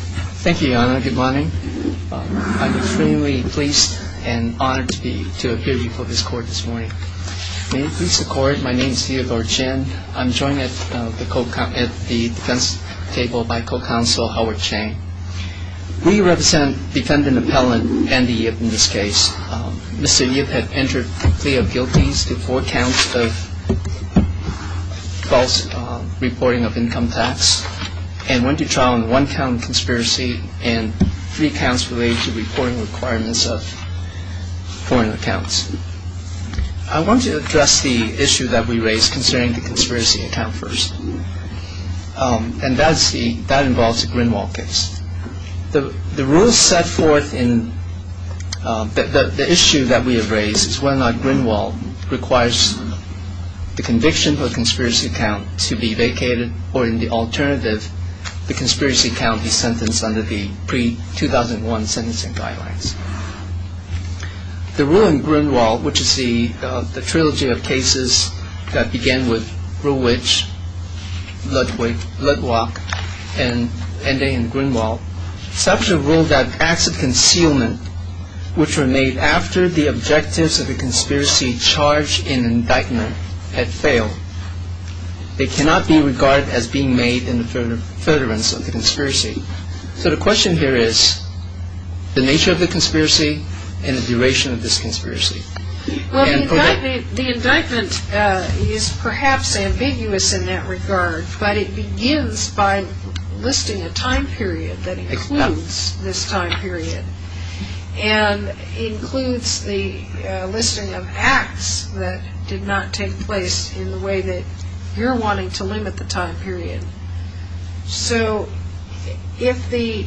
Thank you, Your Honor. Good morning. I am extremely pleased and honored to appear before this Court this morning. May it please the Court, my name is Theodore Chin. I am joined at the defense table by Co-Counsel Howard Chang. We represent defendant appellant Andy Yip in this case. Mr. Yip had entered plea of guilties to four counts of false reporting of income tax and went to trial in one count of conspiracy and three counts related to reporting requirements of foreign accounts. I want to address the issue that we raised concerning the conspiracy account first. And that involves the Grinwall case. The rules set forth in the issue that we have raised is whether or not Grinwall requires the conviction of a conspiracy account to be vacated or, in the alternative, the conspiracy account be sentenced under the pre-2001 Sentencing Guidelines. The rule in Grinwall, which is the trilogy of cases that began with Rule Witch, Ludwig, Ludwok, and ending in Grinwall, established a rule that acts of concealment which were made after the objectives of the conspiracy charge in indictment had failed. They cannot be regarded as being made in the furtherance of the conspiracy. So the question here is the nature of the conspiracy and the duration of this conspiracy. Well, the indictment is perhaps ambiguous in that regard, but it begins by listing a time period that includes this time period and includes the listing of acts that did not take place in the way that you're wanting to limit the time period. So if the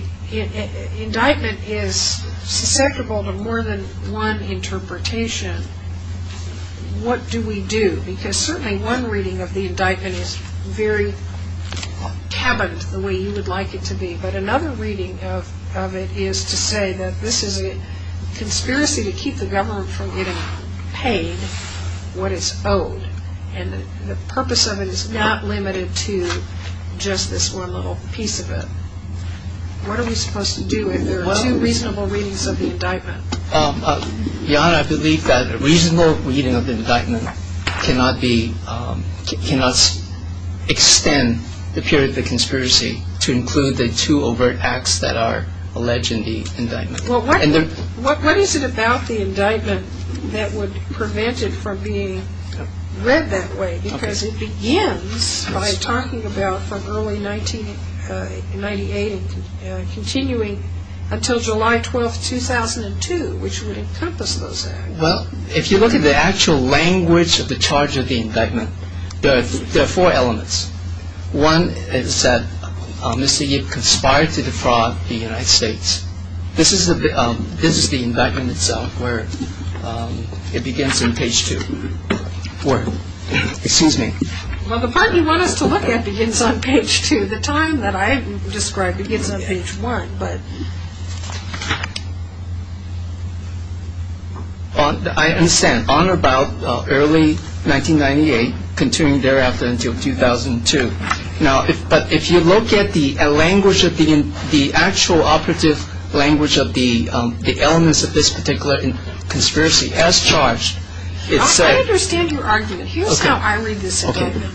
indictment is susceptible to more than one interpretation, what do we do? Because certainly one reading of the indictment is very tabid, the way you would like it to be. But another reading of it is to say that this is a conspiracy to keep the government from getting paid what it's owed. And the purpose of it is not limited to just this one little piece of it. What are we supposed to do if there are two reasonable readings of the indictment? Your Honor, I believe that a reasonable reading of the indictment cannot extend the period of the conspiracy to include the two overt acts that are alleged in the indictment. Well, what is it about the indictment that would prevent it from being read that way? Because it begins by talking about from early 1998 and continuing until July 12, 2002, which would encompass those acts. Well, if you look at the actual language of the charge of the indictment, there are four elements. One is that Mr. Yip conspired to defraud the United States. This is the indictment itself where it begins on page four. Excuse me. Well, the part you want us to look at begins on page two. The time that I described begins on page one. I understand. On or about early 1998, continuing thereafter until 2002. But if you look at the language of the actual operative language of the elements of this particular conspiracy as charged, I understand your argument. Here's how I read this indictment.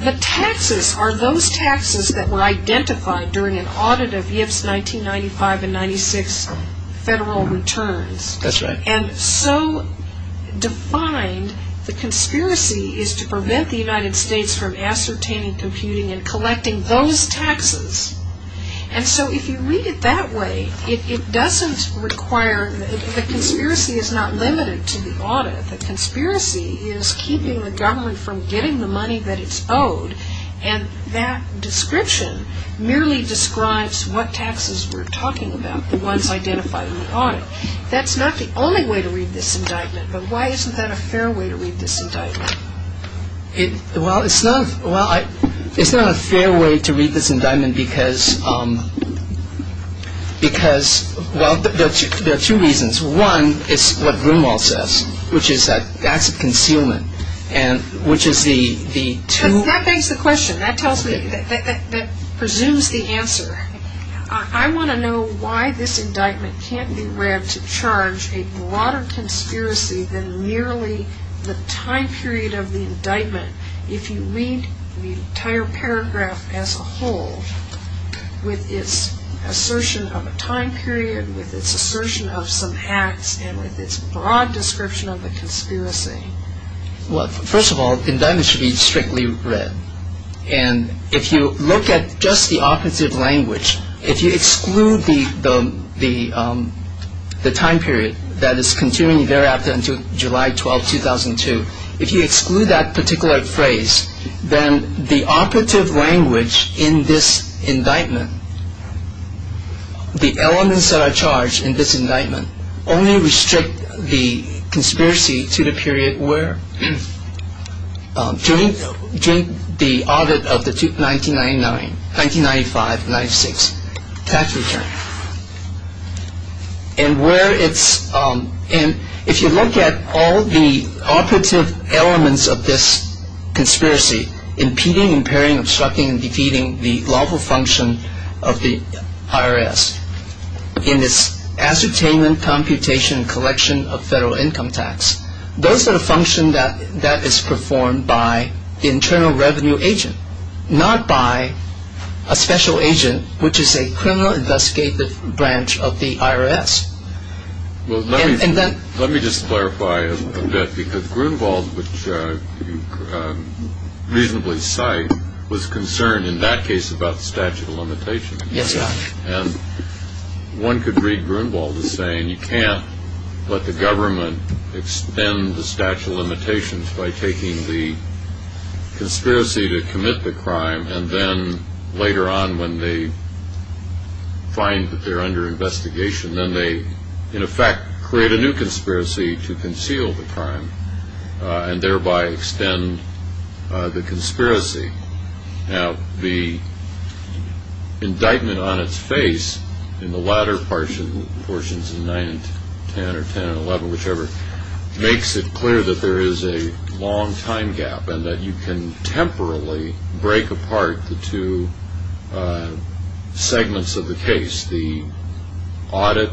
The taxes are those taxes that were identified during an audit of Yip's 1995 and 1996 federal returns. That's right. And so defined, the conspiracy is to prevent the United States from ascertaining, computing, and collecting those taxes. And so if you read it that way, it doesn't require the conspiracy is not limited to the audit. The conspiracy is keeping the government from getting the money that it's owed. And that description merely describes what taxes we're talking about, the ones identified in the audit. That's not the only way to read this indictment. But why isn't that a fair way to read this indictment? Well, it's not a fair way to read this indictment because, well, there are two reasons. One is what Grimwald says, which is that that's a concealment, which is the two. That begs the question. That tells me, that presumes the answer. I want to know why this indictment can't be read to charge a broader conspiracy than merely the time period of the indictment. If you read the entire paragraph as a whole, with its assertion of a time period, with its assertion of some acts, and with its broad description of the conspiracy. Well, first of all, the indictment should be strictly read. And if you look at just the operative language, if you exclude the time period that is continuing thereafter until July 12, 2002, if you exclude that particular phrase, then the operative language in this indictment, the elements that are charged in this indictment, only restrict the conspiracy to the period where, during the audit of the 1999, 1995, 1996 tax return. And where it's, and if you look at all the operative elements of this conspiracy, impeding, impairing, obstructing, and defeating the lawful function of the IRS, in this ascertainment, computation, and collection of federal income tax, those are a function that is performed by the internal revenue agent, not by a special agent, which is a criminal investigative branch of the IRS. Well, let me just clarify a bit, because Grunewald, which you reasonably cite, was concerned in that case about statute of limitations. Yes, Your Honor. And one could read Grunewald as saying, you can't let the government extend the statute of limitations by taking the conspiracy to commit the crime, and then later on, when they find that they're under investigation, then they, in effect, create a new conspiracy to conceal the crime, and thereby extend the conspiracy. Now, the indictment on its face, in the latter portions of 9 and 10, or 10 and 11, whichever, makes it clear that there is a long time gap, and that you can temporally break apart the two segments of the case. The audit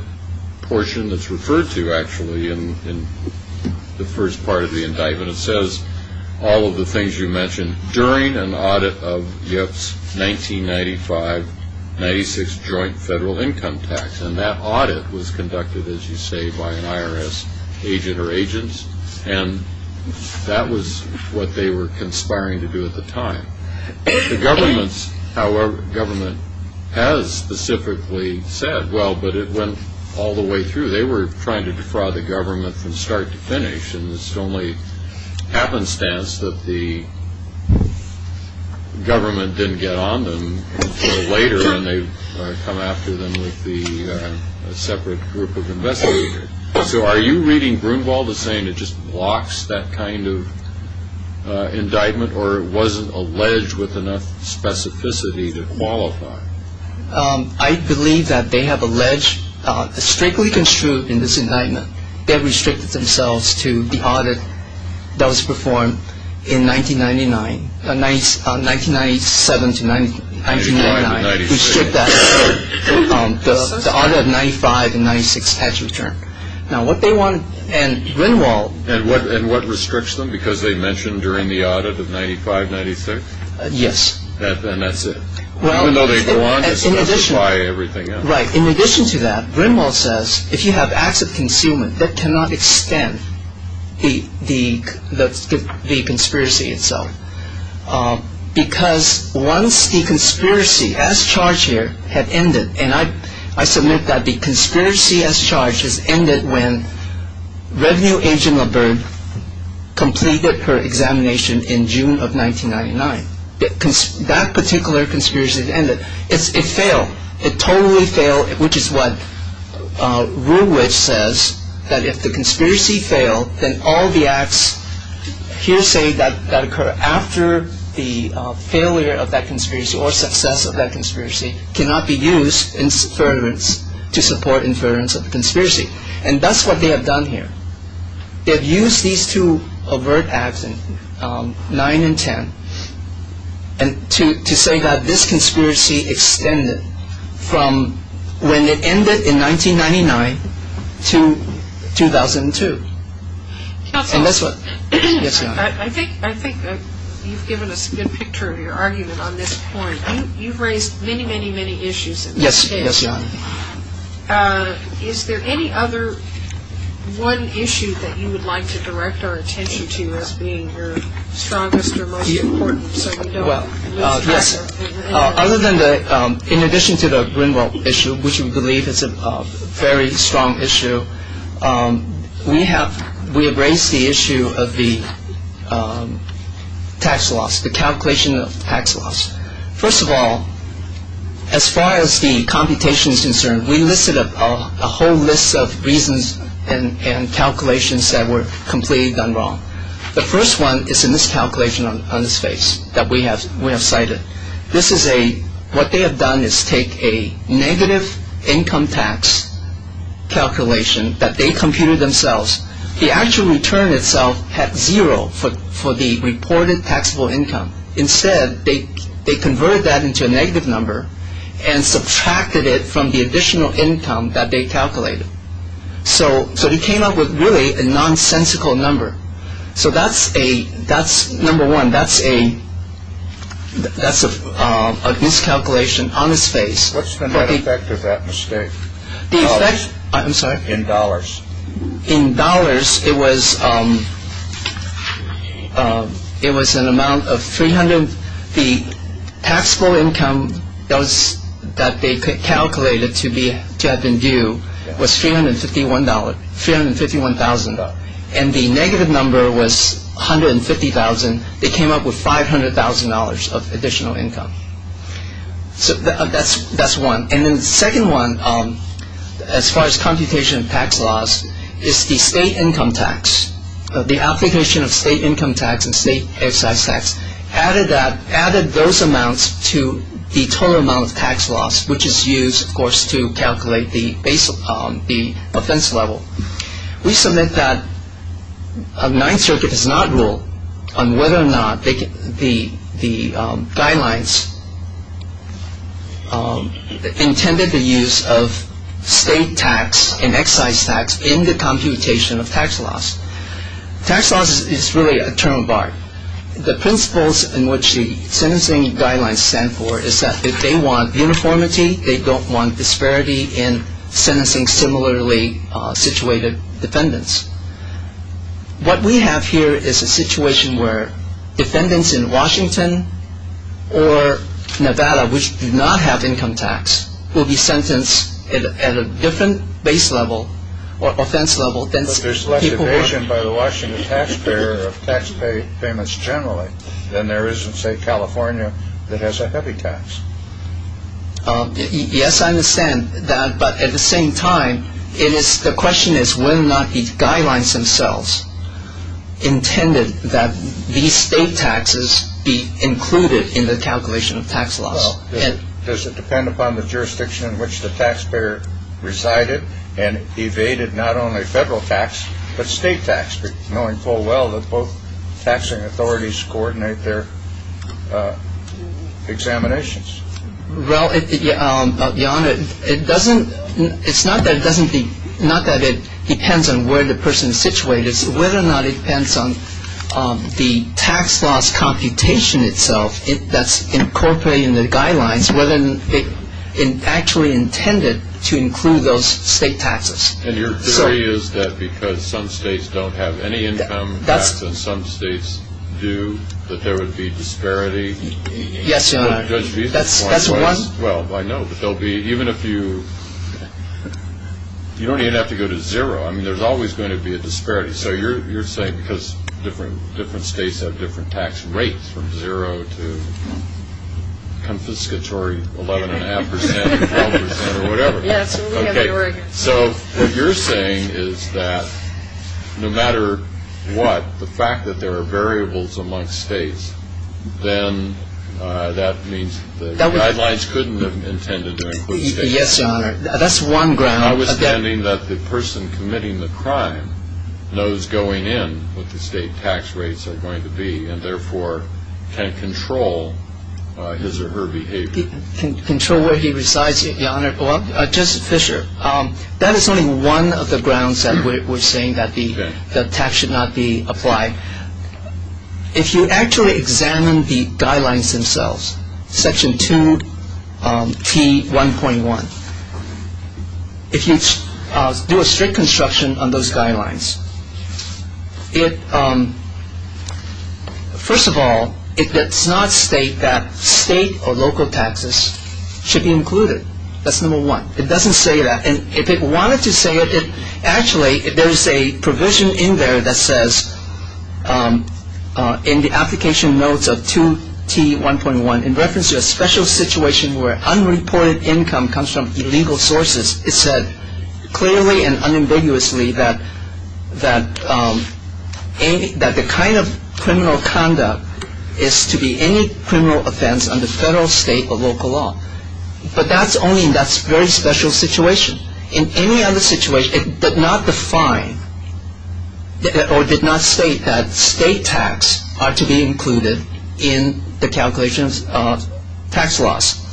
portion that's referred to, actually, in the first part of the indictment, it says all of the things you mentioned during an audit of Yip's 1995-96 joint federal income tax, and that audit was conducted, as you say, by an IRS agent or agents, and that was what they were conspiring to do at the time. The government has specifically said, well, but it went all the way through. They were trying to defraud the government from start to finish, and it's only happenstance that the government didn't get on them until later, and they've come after them with a separate group of investigators. So are you reading Brunvalde saying it just blocks that kind of indictment, or it wasn't alleged with enough specificity to qualify? I believe that they have alleged, strictly construed in this indictment, they have restricted themselves to the audit that was performed in 1999, 1997-1999. The audit of 95 and 96 tax return. Now, what they want, and Brunvalde. And what restricts them, because they mentioned during the audit of 95-96? Yes. And that's it. Even though they go on to specify everything else. Right. In addition to that, Brunvalde says, if you have acts of concealment, that cannot extend the conspiracy itself, because once the conspiracy as charged here had ended, and I submit that the conspiracy as charged has ended when Revenue Agent LaBerge completed her examination in June of 1999. That particular conspiracy has ended. It failed. It totally failed, which is what Reuben says, that if the conspiracy failed, then all the acts here say that occur after the failure of that conspiracy or success of that conspiracy, cannot be used to support inference of the conspiracy. And that's what they have done here. They have used these two overt acts, 9 and 10, to say that this conspiracy extended from when it ended in 1999 to 2002. Counsel, I think you've given us a good picture of your argument on this point. You've raised many, many, many issues. Yes, Your Honor. Is there any other one issue that you would like to direct our attention to as being your strongest or most important? Well, yes. In addition to the Brunvalde issue, which we believe is a very strong issue, we have raised the issue of the tax loss, the calculation of tax loss. First of all, as far as the computation is concerned, we listed a whole list of reasons and calculations that were completely done wrong. The first one is in this calculation on this face that we have cited. What they have done is take a negative income tax calculation that they computed themselves. The actual return itself had zero for the reported taxable income. Instead, they converted that into a negative number and subtracted it from the additional income that they calculated. So they came up with really a nonsensical number. So that's number one. That's a miscalculation on this face. What's the net effect of that mistake? I'm sorry? In dollars. In dollars, it was an amount of 300. The taxable income that they calculated to have been due was $351,000. And the negative number was $150,000. They came up with $500,000 of additional income. So that's one. And then the second one, as far as computation of tax laws, is the state income tax. The application of state income tax and state excess tax added those amounts to the total amount of tax loss, which is used, of course, to calculate the offense level. We submit that the Ninth Circuit has not ruled on whether or not the guidelines intended the use of state tax and excise tax in the computation of tax laws. Tax laws is really a term bar. The principles in which the sentencing guidelines stand for is that if they want uniformity, they don't want disparity in sentencing similarly situated defendants. What we have here is a situation where defendants in Washington or Nevada, which do not have income tax, will be sentenced at a different base level or offense level. But there's less evasion by the Washington taxpayer of tax payments generally than there is in, say, California, that has a heavy tax. Yes, I understand that. But at the same time, the question is whether or not the guidelines themselves intended that these state taxes be included in the calculation of tax laws. Well, does it depend upon the jurisdiction in which the taxpayer resided and evaded not only federal tax but state tax, knowing full well that both taxing authorities coordinate their examinations? Well, Your Honor, it's not that it depends on where the person is situated. It's whether or not it depends on the tax laws computation itself that's incorporated in the guidelines whether they actually intended to include those state taxes. And your theory is that because some states don't have any income tax and some states do that there would be disparity? Yes, Your Honor. That's one. Well, I know. Even if you don't even have to go to zero, I mean, there's always going to be a disparity. So you're saying because different states have different tax rates from zero to confiscatory 11.5 percent or 12 percent or whatever. So what you're saying is that no matter what, the fact that there are variables amongst states, then that means the guidelines couldn't have intended to include states. Yes, Your Honor. That's one ground. Notwithstanding that the person committing the crime knows going in what the state tax rates are going to be and therefore can control his or her behavior. Control where he resides, Your Honor. Well, Justice Fischer, that is only one of the grounds that we're saying that the tax should not be applied. If you actually examine the guidelines themselves, Section 2T1.1, if you do a strict construction on those guidelines, first of all, it does not state that state or local taxes should be included. That's number one. It doesn't say that. And if it wanted to say it, actually there is a provision in there that says in the application notes of 2T1.1, in reference to a special situation where unreported income comes from illegal sources, it said clearly and unambiguously that the kind of criminal conduct is to be any criminal offense under federal, state, or local law. But that's only in that very special situation. In any other situation, it did not define or did not state that state tax are to be included in the calculations of tax laws.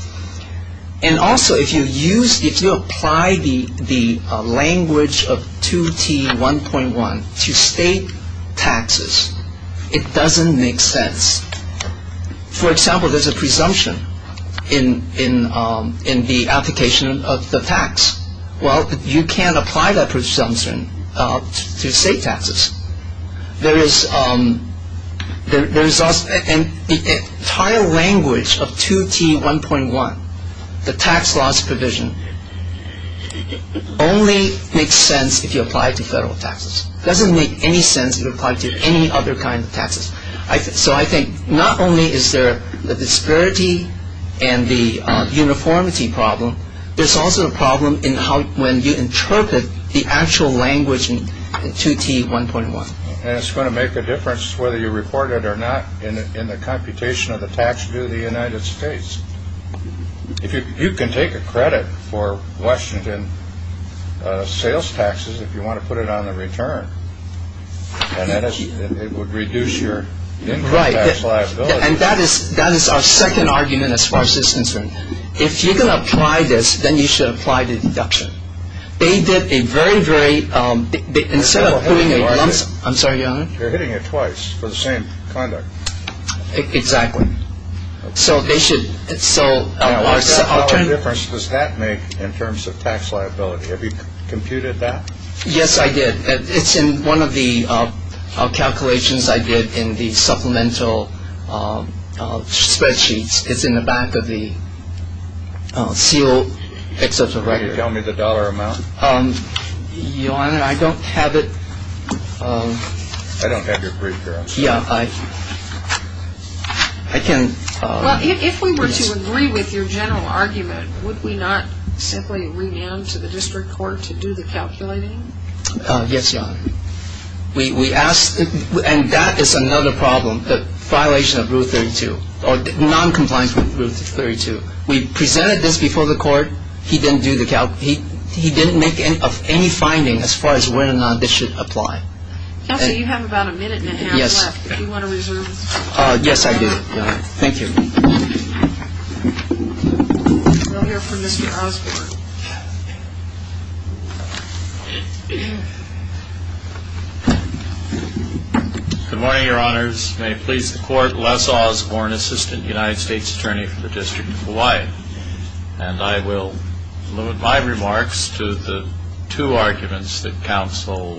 And also, if you apply the language of 2T1.1 to state taxes, it doesn't make sense. For example, there's a presumption in the application of the tax. Well, you can't apply that presumption to state taxes. And the entire language of 2T1.1, the tax laws provision, only makes sense if you apply it to federal taxes. It doesn't make any sense if you apply it to any other kind of taxes. So I think not only is there a disparity and the uniformity problem, there's also a problem in how when you interpret the actual language in 2T1.1. And it's going to make a difference whether you report it or not in the computation of the tax due to the United States. You can take a credit for Washington sales taxes if you want to put it on the return, and it would reduce your income tax liability. And that is our second argument as far as this is concerned. If you're going to apply this, then you should apply the deduction. They did a very, very – instead of doing a – I'm sorry, Your Honor? You're hitting it twice for the same conduct. Exactly. So they should – so – How much difference does that make in terms of tax liability? Have you computed that? Yes, I did. It's in one of the calculations I did in the supplemental spreadsheets. It's in the back of the seal, except for record. Can you tell me the dollar amount? Your Honor, I don't have it. I don't have your brief, Your Honor. Yeah, I can. Well, if we were to agree with your general argument, would we not simply remand to the district court to do the calculating? Yes, Your Honor. We asked – and that is another problem, the violation of Rule 32, or noncompliance with Rule 32. We presented this before the court. He didn't do the – he didn't make any finding as far as whether or not this should apply. Counsel, you have about a minute and a half left. Yes, I do, Your Honor. Thank you. We'll hear from Mr. Osborne. Good morning, Your Honors. May it please the Court, Les Osborne, Assistant United States Attorney for the District of Hawaii. And I will limit my remarks to the two arguments that counsel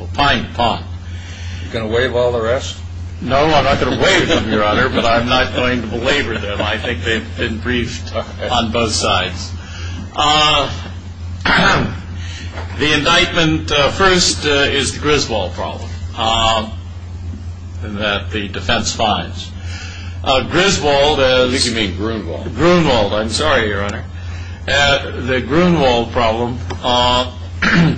opined upon. Are you going to waive all the rest? No, I'm not going to waive them, Your Honor, but I'm not going to belabor them. I think they've been briefed on both sides. The indictment, first, is the Griswold problem that the defense finds. Griswold is – I think you mean Grunwald. Grunwald. I'm sorry, Your Honor. The Grunwald problem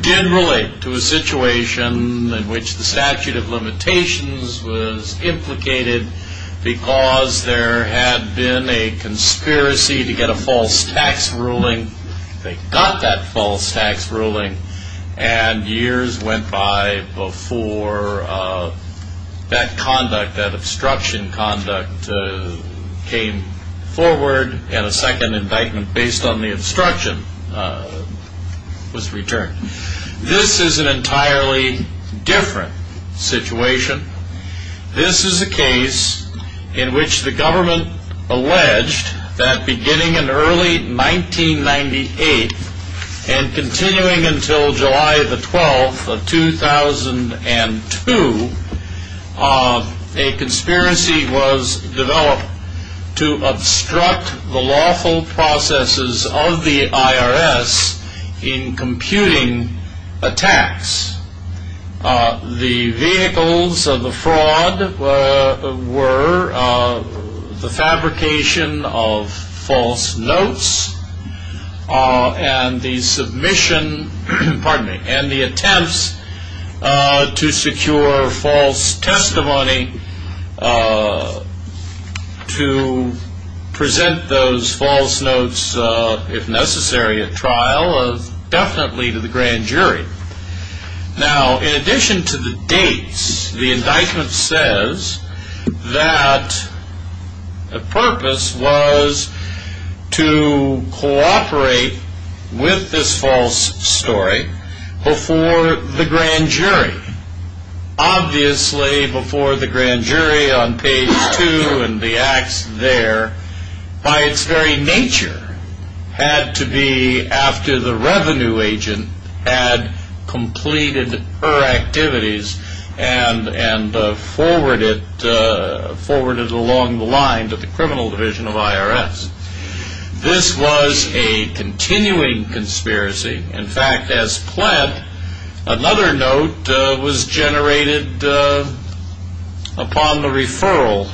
did relate to a situation in which the statute of limitations was implicated because there had been a conspiracy to get a false tax ruling. They got that false tax ruling. And years went by before that conduct, that obstruction conduct, came forward, and a second indictment based on the obstruction was returned. This is an entirely different situation. This is a case in which the government alleged that beginning in early 1998 and continuing until July the 12th of 2002, a conspiracy was developed to obstruct the lawful processes of the IRS in computing a tax. The vehicles of the fraud were the fabrication of false notes and the submission – pardon me – and the attempts to secure false testimony to present those false notes, if necessary, at trial, was definitely to the grand jury. Now, in addition to the dates, the indictment says that the purpose was to cooperate with this false story before the grand jury. Obviously, before the grand jury on page two and the acts there, by its very nature, had to be after the revenue agent had completed her activities and forwarded it along the line to the criminal division of IRS. This was a continuing conspiracy. In fact, as pled, another note was generated upon the referral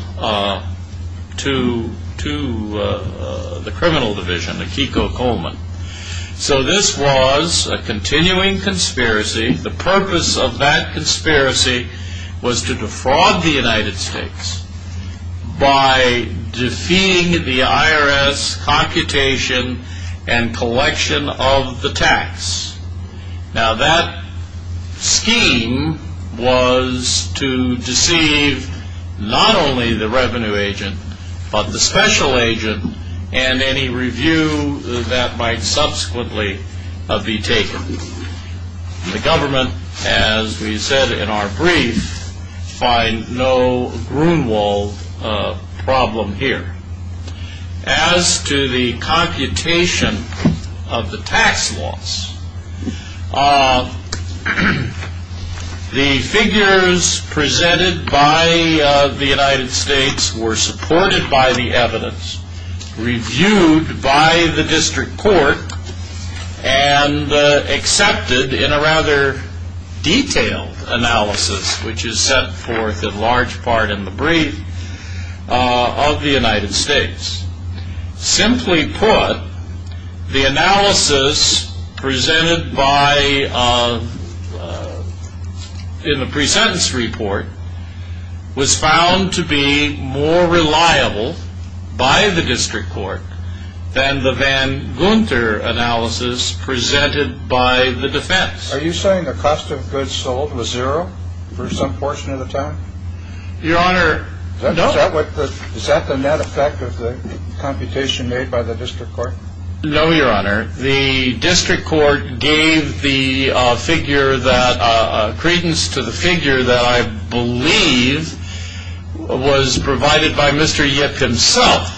to the criminal division, Akiko Coleman. So this was a continuing conspiracy. The purpose of that conspiracy was to defraud the United States by defeating the IRS computation and collection of the tax. Now, that scheme was to deceive not only the revenue agent, but the special agent and any review that might subsequently be taken. The government, as we said in our brief, find no Grunewald problem here. As to the computation of the tax loss, the figures presented by the United States were supported by the evidence, reviewed by the district court, and accepted in a rather detailed analysis, which is set forth in large part in the brief, of the United States. Simply put, the analysis presented in the presentence report was found to be more reliable by the district court than the Van Gunter analysis presented by the defense. Are you saying the cost of goods sold was zero for some portion of the time? Your Honor, no. Is that the net effect of the computation made by the district court? No, Your Honor. The district court gave the figure that, a credence to the figure that I believe was provided by Mr. Yip himself.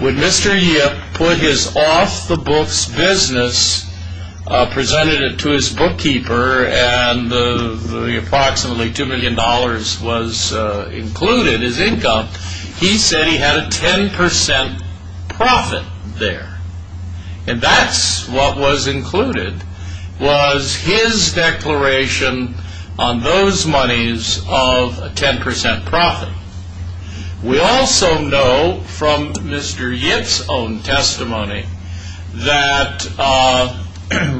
When Mr. Yip put his off-the-books business, presented it to his bookkeeper, and the approximately $2 million was included, his income, he said he had a 10% profit there. And that's what was included, was his declaration on those monies of a 10% profit. We also know from Mr. Yip's own testimony, that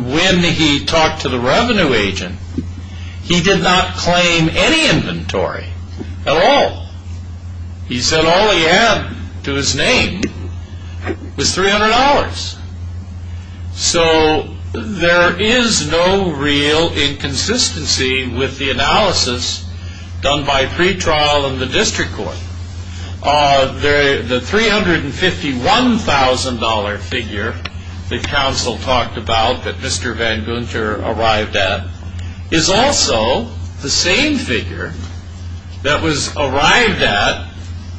when he talked to the revenue agent, he did not claim any inventory at all. He said all he had to his name was $300. So there is no real inconsistency with the analysis done by pretrial and the district court. The $351,000 figure that counsel talked about, that Mr. Van Gunter arrived at, is also the same figure that was arrived at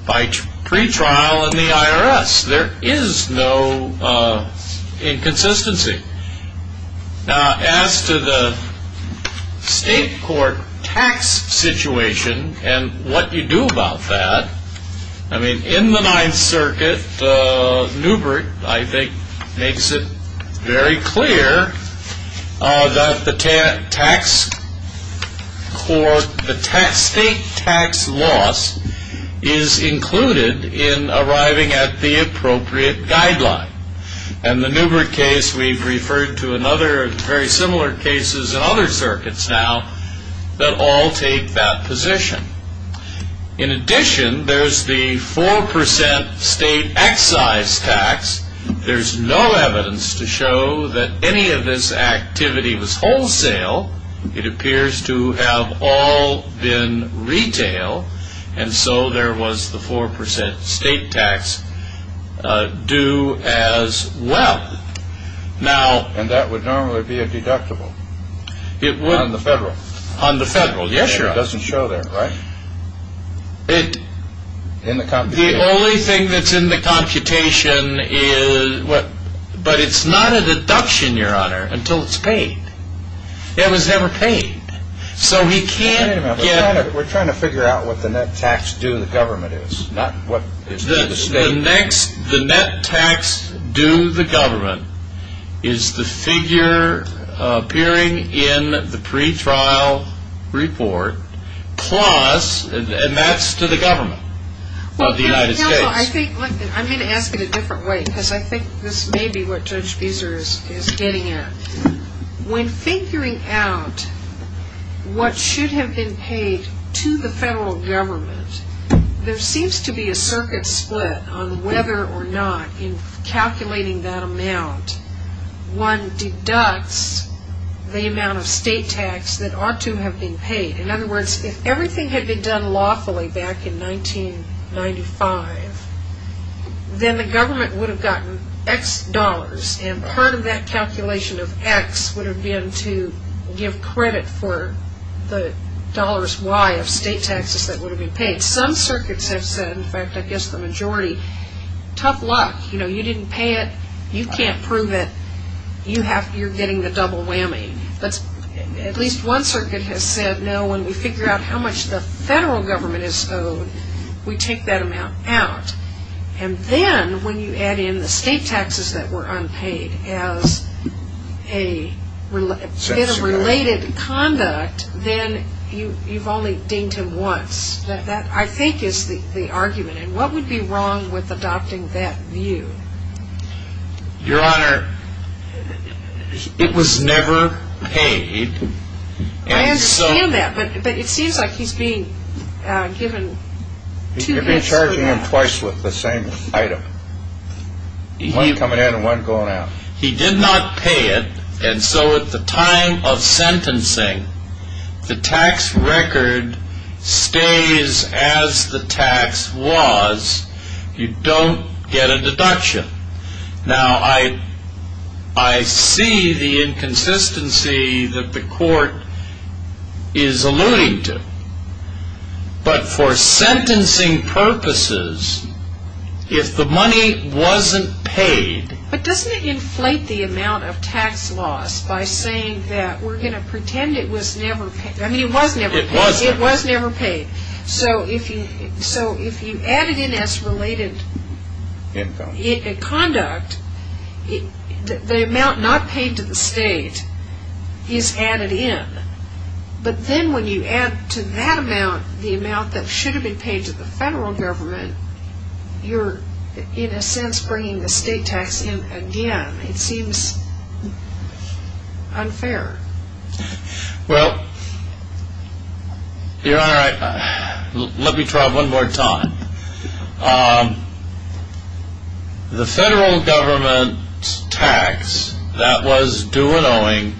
by pretrial and the IRS. There is no inconsistency. Now, as to the state court tax situation and what you do about that, I mean, in the Ninth Circuit, NUBRT, I think, makes it very clear that the state tax loss is included in arriving at the appropriate guideline. And the NUBRT case, we've referred to in other very similar cases in other circuits now, that all take that position. In addition, there's the 4% state excise tax. There's no evidence to show that any of this activity was wholesale. It appears to have all been retail. And so there was the 4% state tax due as well. And that would normally be a deductible? On the federal? On the federal, yes, Your Honor. It doesn't show there, right? In the computation? The only thing that's in the computation is what? But it's not a deduction, Your Honor, until it's paid. It was never paid. Wait a minute. We're trying to figure out what the net tax due the government is. The net tax due the government is the figure appearing in the pre-trial report, and that's to the government of the United States. I'm going to ask it a different way because I think this may be what Judge Beezer is getting at. When figuring out what should have been paid to the federal government, there seems to be a circuit split on whether or not in calculating that amount one deducts the amount of state tax that ought to have been paid. In other words, if everything had been done lawfully back in 1995, then the government would have gotten X dollars, and part of that calculation of X would have been to give credit for the dollars Y of state taxes that would have been paid. Some circuits have said, in fact, I guess the majority, tough luck. You didn't pay it. You can't prove it. You're getting the double whammy. At least one circuit has said, no, when we figure out how much the federal government is owed, we take that amount out. And then when you add in the state taxes that were unpaid as a bit of related conduct, then you've only dinged him once. That, I think, is the argument. And what would be wrong with adopting that view? Your Honor, it was never paid. I understand that, but it seems like he's being given two hits for that. You've been charging him twice with the same item. One coming in and one going out. He did not pay it, and so at the time of sentencing, the tax record stays as the tax was. You don't get a deduction. Now, I see the inconsistency that the court is alluding to. But for sentencing purposes, if the money wasn't paid. But doesn't it inflate the amount of tax loss by saying that we're going to pretend it was never paid? I mean, it was never paid. It was never paid. So if you add it in as related conduct, the amount not paid to the state is added in. But then when you add to that amount the amount that should have been paid to the federal government, you're in a sense bringing the state tax in again. It seems unfair. Well, Your Honor, let me try one more time. The federal government tax that was due and owing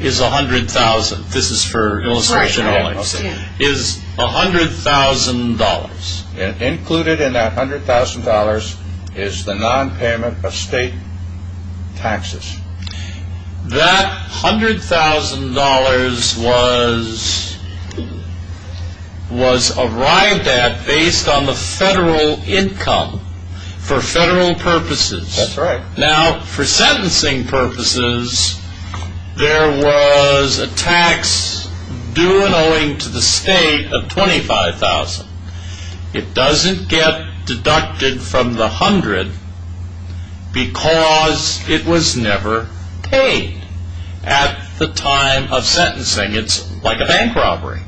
is $100,000. This is for illustration only. Is $100,000. Included in that $100,000 is the nonpayment of state taxes. That $100,000 was arrived at based on the federal income for federal purposes. That's right. Now, for sentencing purposes, there was a tax due and owing to the state of $25,000. It doesn't get deducted from the $100,000 because it was never paid at the time of sentencing. It's like a bank robbery.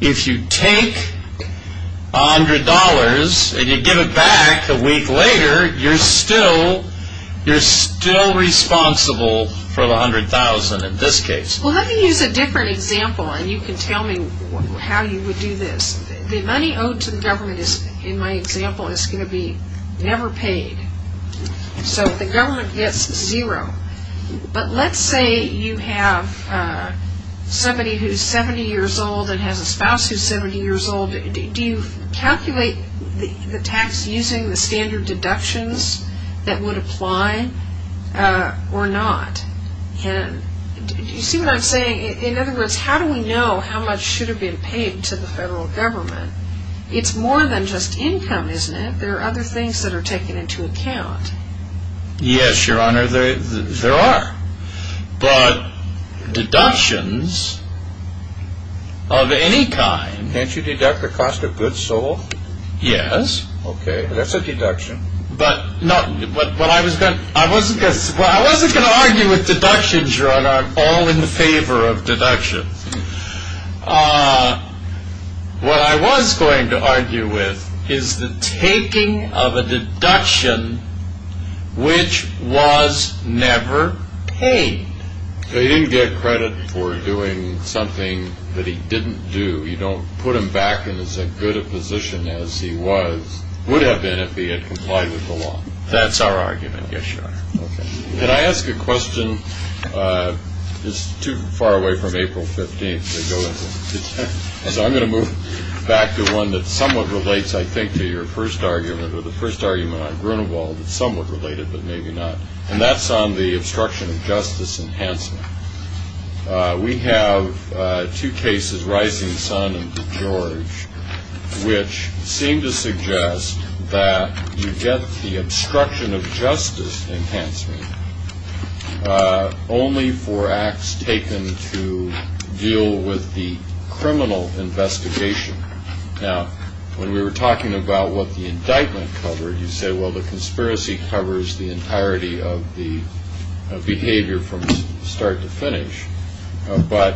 If you take $100,000 and you give it back a week later, you're still responsible for the $100,000 in this case. Well, let me use a different example and you can tell me how you would do this. The money owed to the government in my example is going to be never paid. So the government gets zero. But let's say you have somebody who's 70 years old and has a spouse who's 70 years old. Do you calculate the tax using the standard deductions that would apply or not? Do you see what I'm saying? In other words, how do we know how much should have been paid to the federal government? It's more than just income, isn't it? There are other things that are taken into account. Yes, Your Honor, there are. But deductions of any kind... Can't you deduct the cost of goods sold? Yes. Okay, that's a deduction. But I wasn't going to argue with deductions, Your Honor. I'm all in favor of deductions. What I was going to argue with is the taking of a deduction which was never paid. So you didn't get credit for doing something that he didn't do. You don't put him back in as good a position as he would have been if he had complied with the law. That's our argument, yes, Your Honor. Can I ask a question? It's too far away from April 15th to go into. So I'm going to move back to one that somewhat relates, I think, to your first argument or the first argument on Grunewald that's somewhat related but maybe not, and that's on the obstruction of justice enhancement. We have two cases, Rising Sun and George, which seem to suggest that you get the obstruction of justice enhancement only for acts taken to deal with the criminal investigation. Now, when we were talking about what the indictment covered, you said, well, the conspiracy covers the entirety of the behavior from start to finish. But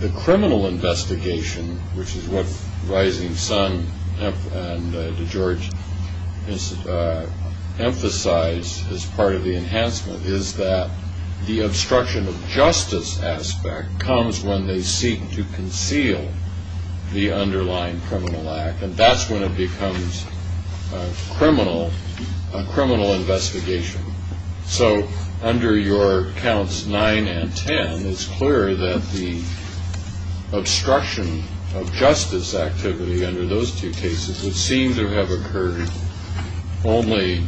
the criminal investigation, which is what Rising Sun and George emphasize as part of the enhancement, is that the obstruction of justice aspect comes when they seek to conceal the underlying criminal act, and that's when it becomes a criminal investigation. So under your counts 9 and 10, it's clear that the obstruction of justice activity under those two cases would seem to have occurred only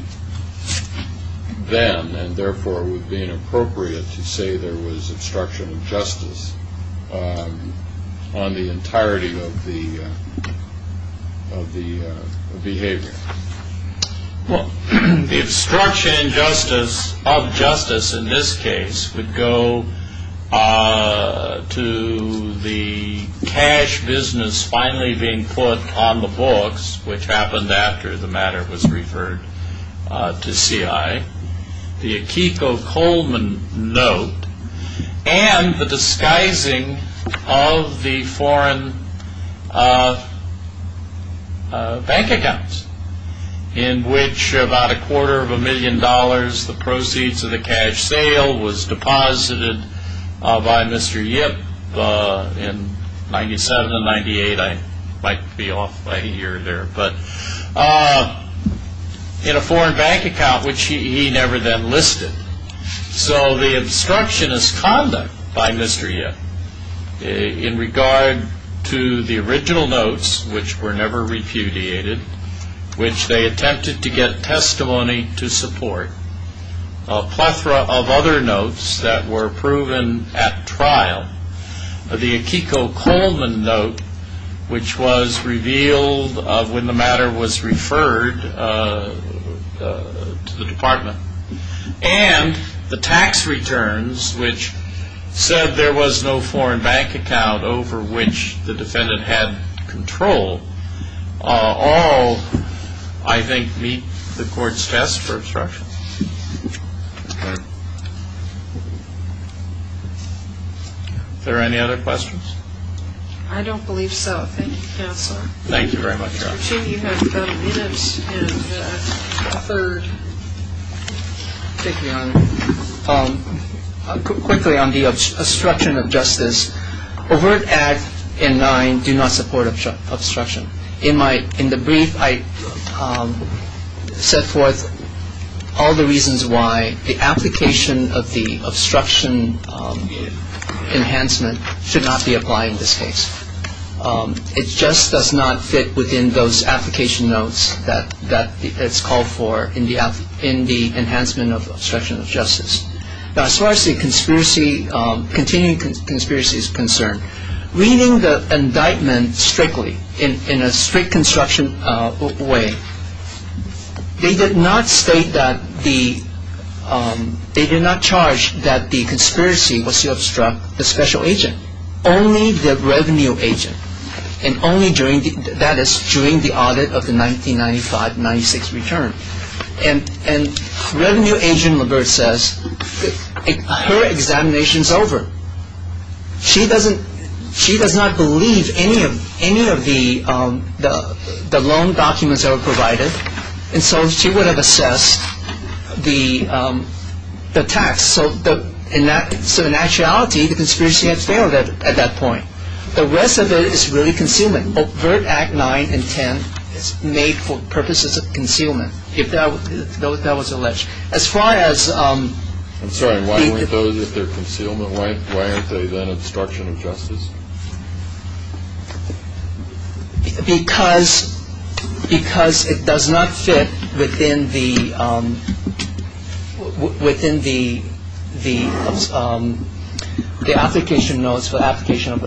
then, and therefore it would be inappropriate to say there was obstruction of justice on the entirety of the behavior. Well, the obstruction of justice in this case would go to the cash business finally being put on the books, which happened after the matter was referred to CI, the Akiko Coleman note, and the disguising of the foreign bank accounts, in which about a quarter of a million dollars, the proceeds of the cash sale, was deposited by Mr. Yip in 97 and 98. I might be off by a year there. But in a foreign bank account, which he never then listed. So the obstructionist conduct by Mr. Yip in regard to the original notes, which were never repudiated, which they attempted to get testimony to support, a plethora of other notes that were proven at trial, the Akiko Coleman note, which was revealed when the matter was referred to the department, and the tax returns, which said there was no foreign bank account over which the defendant had control, all, I think, meet the court's test for obstruction. Is there any other questions? I don't believe so. Thank you, counsel. Thank you very much. Mr. Ching, you have about a minute and a third. Thank you, Your Honor. Quickly on the obstruction of justice. Overt Act and 9 do not support obstruction. In the brief, I set forth all the reasons why the application of the obstruction enhancement should not be applied in this case. It just does not fit within those application notes that it's called for in the enhancement of obstruction of justice. As far as the continuing conspiracy is concerned, reading the indictment strictly, in a strict construction way, they did not state that the, they did not charge that the conspiracy was to obstruct the special agent. Only the revenue agent, and only during the, that is, during the audit of the 1995-96 return. And revenue agent LaBerge says her examination's over. She doesn't, she does not believe any of the loan documents that were provided, and so she would have assessed the tax. So in actuality, the conspiracy has failed at that point. The rest of it is really concealment. Overt Act 9 and 10 is made for purposes of concealment, if that was alleged. As far as... I'm sorry, why weren't those, if they're concealment, why aren't they then obstruction of justice? Because, because it does not fit within the, within the, the application notes for application of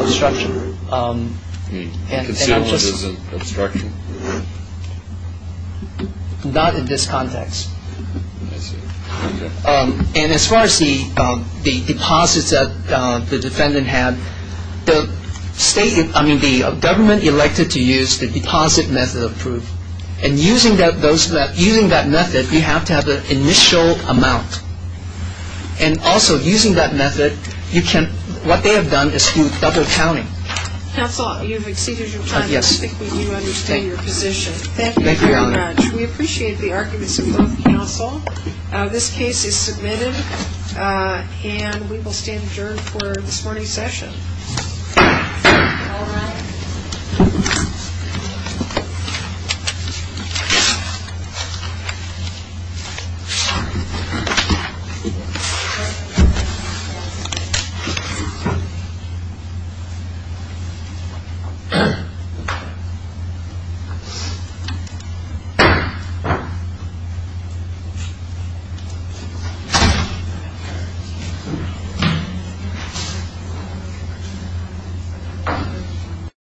obstruction. Concealment isn't obstruction? Not in this context. I see, okay. And as far as the deposits that the defendant had, the state, I mean, the government elected to use the deposit method of proof. And using that method, you have to have the initial amount. And also, using that method, you can, what they have done is do double counting. Counsel, you've exceeded your time. I think we do understand your position. Thank you very much. We appreciate the arguments of both counsel. This case is submitted. And we will stand adjourned for this morning's session. All rise. Thank you.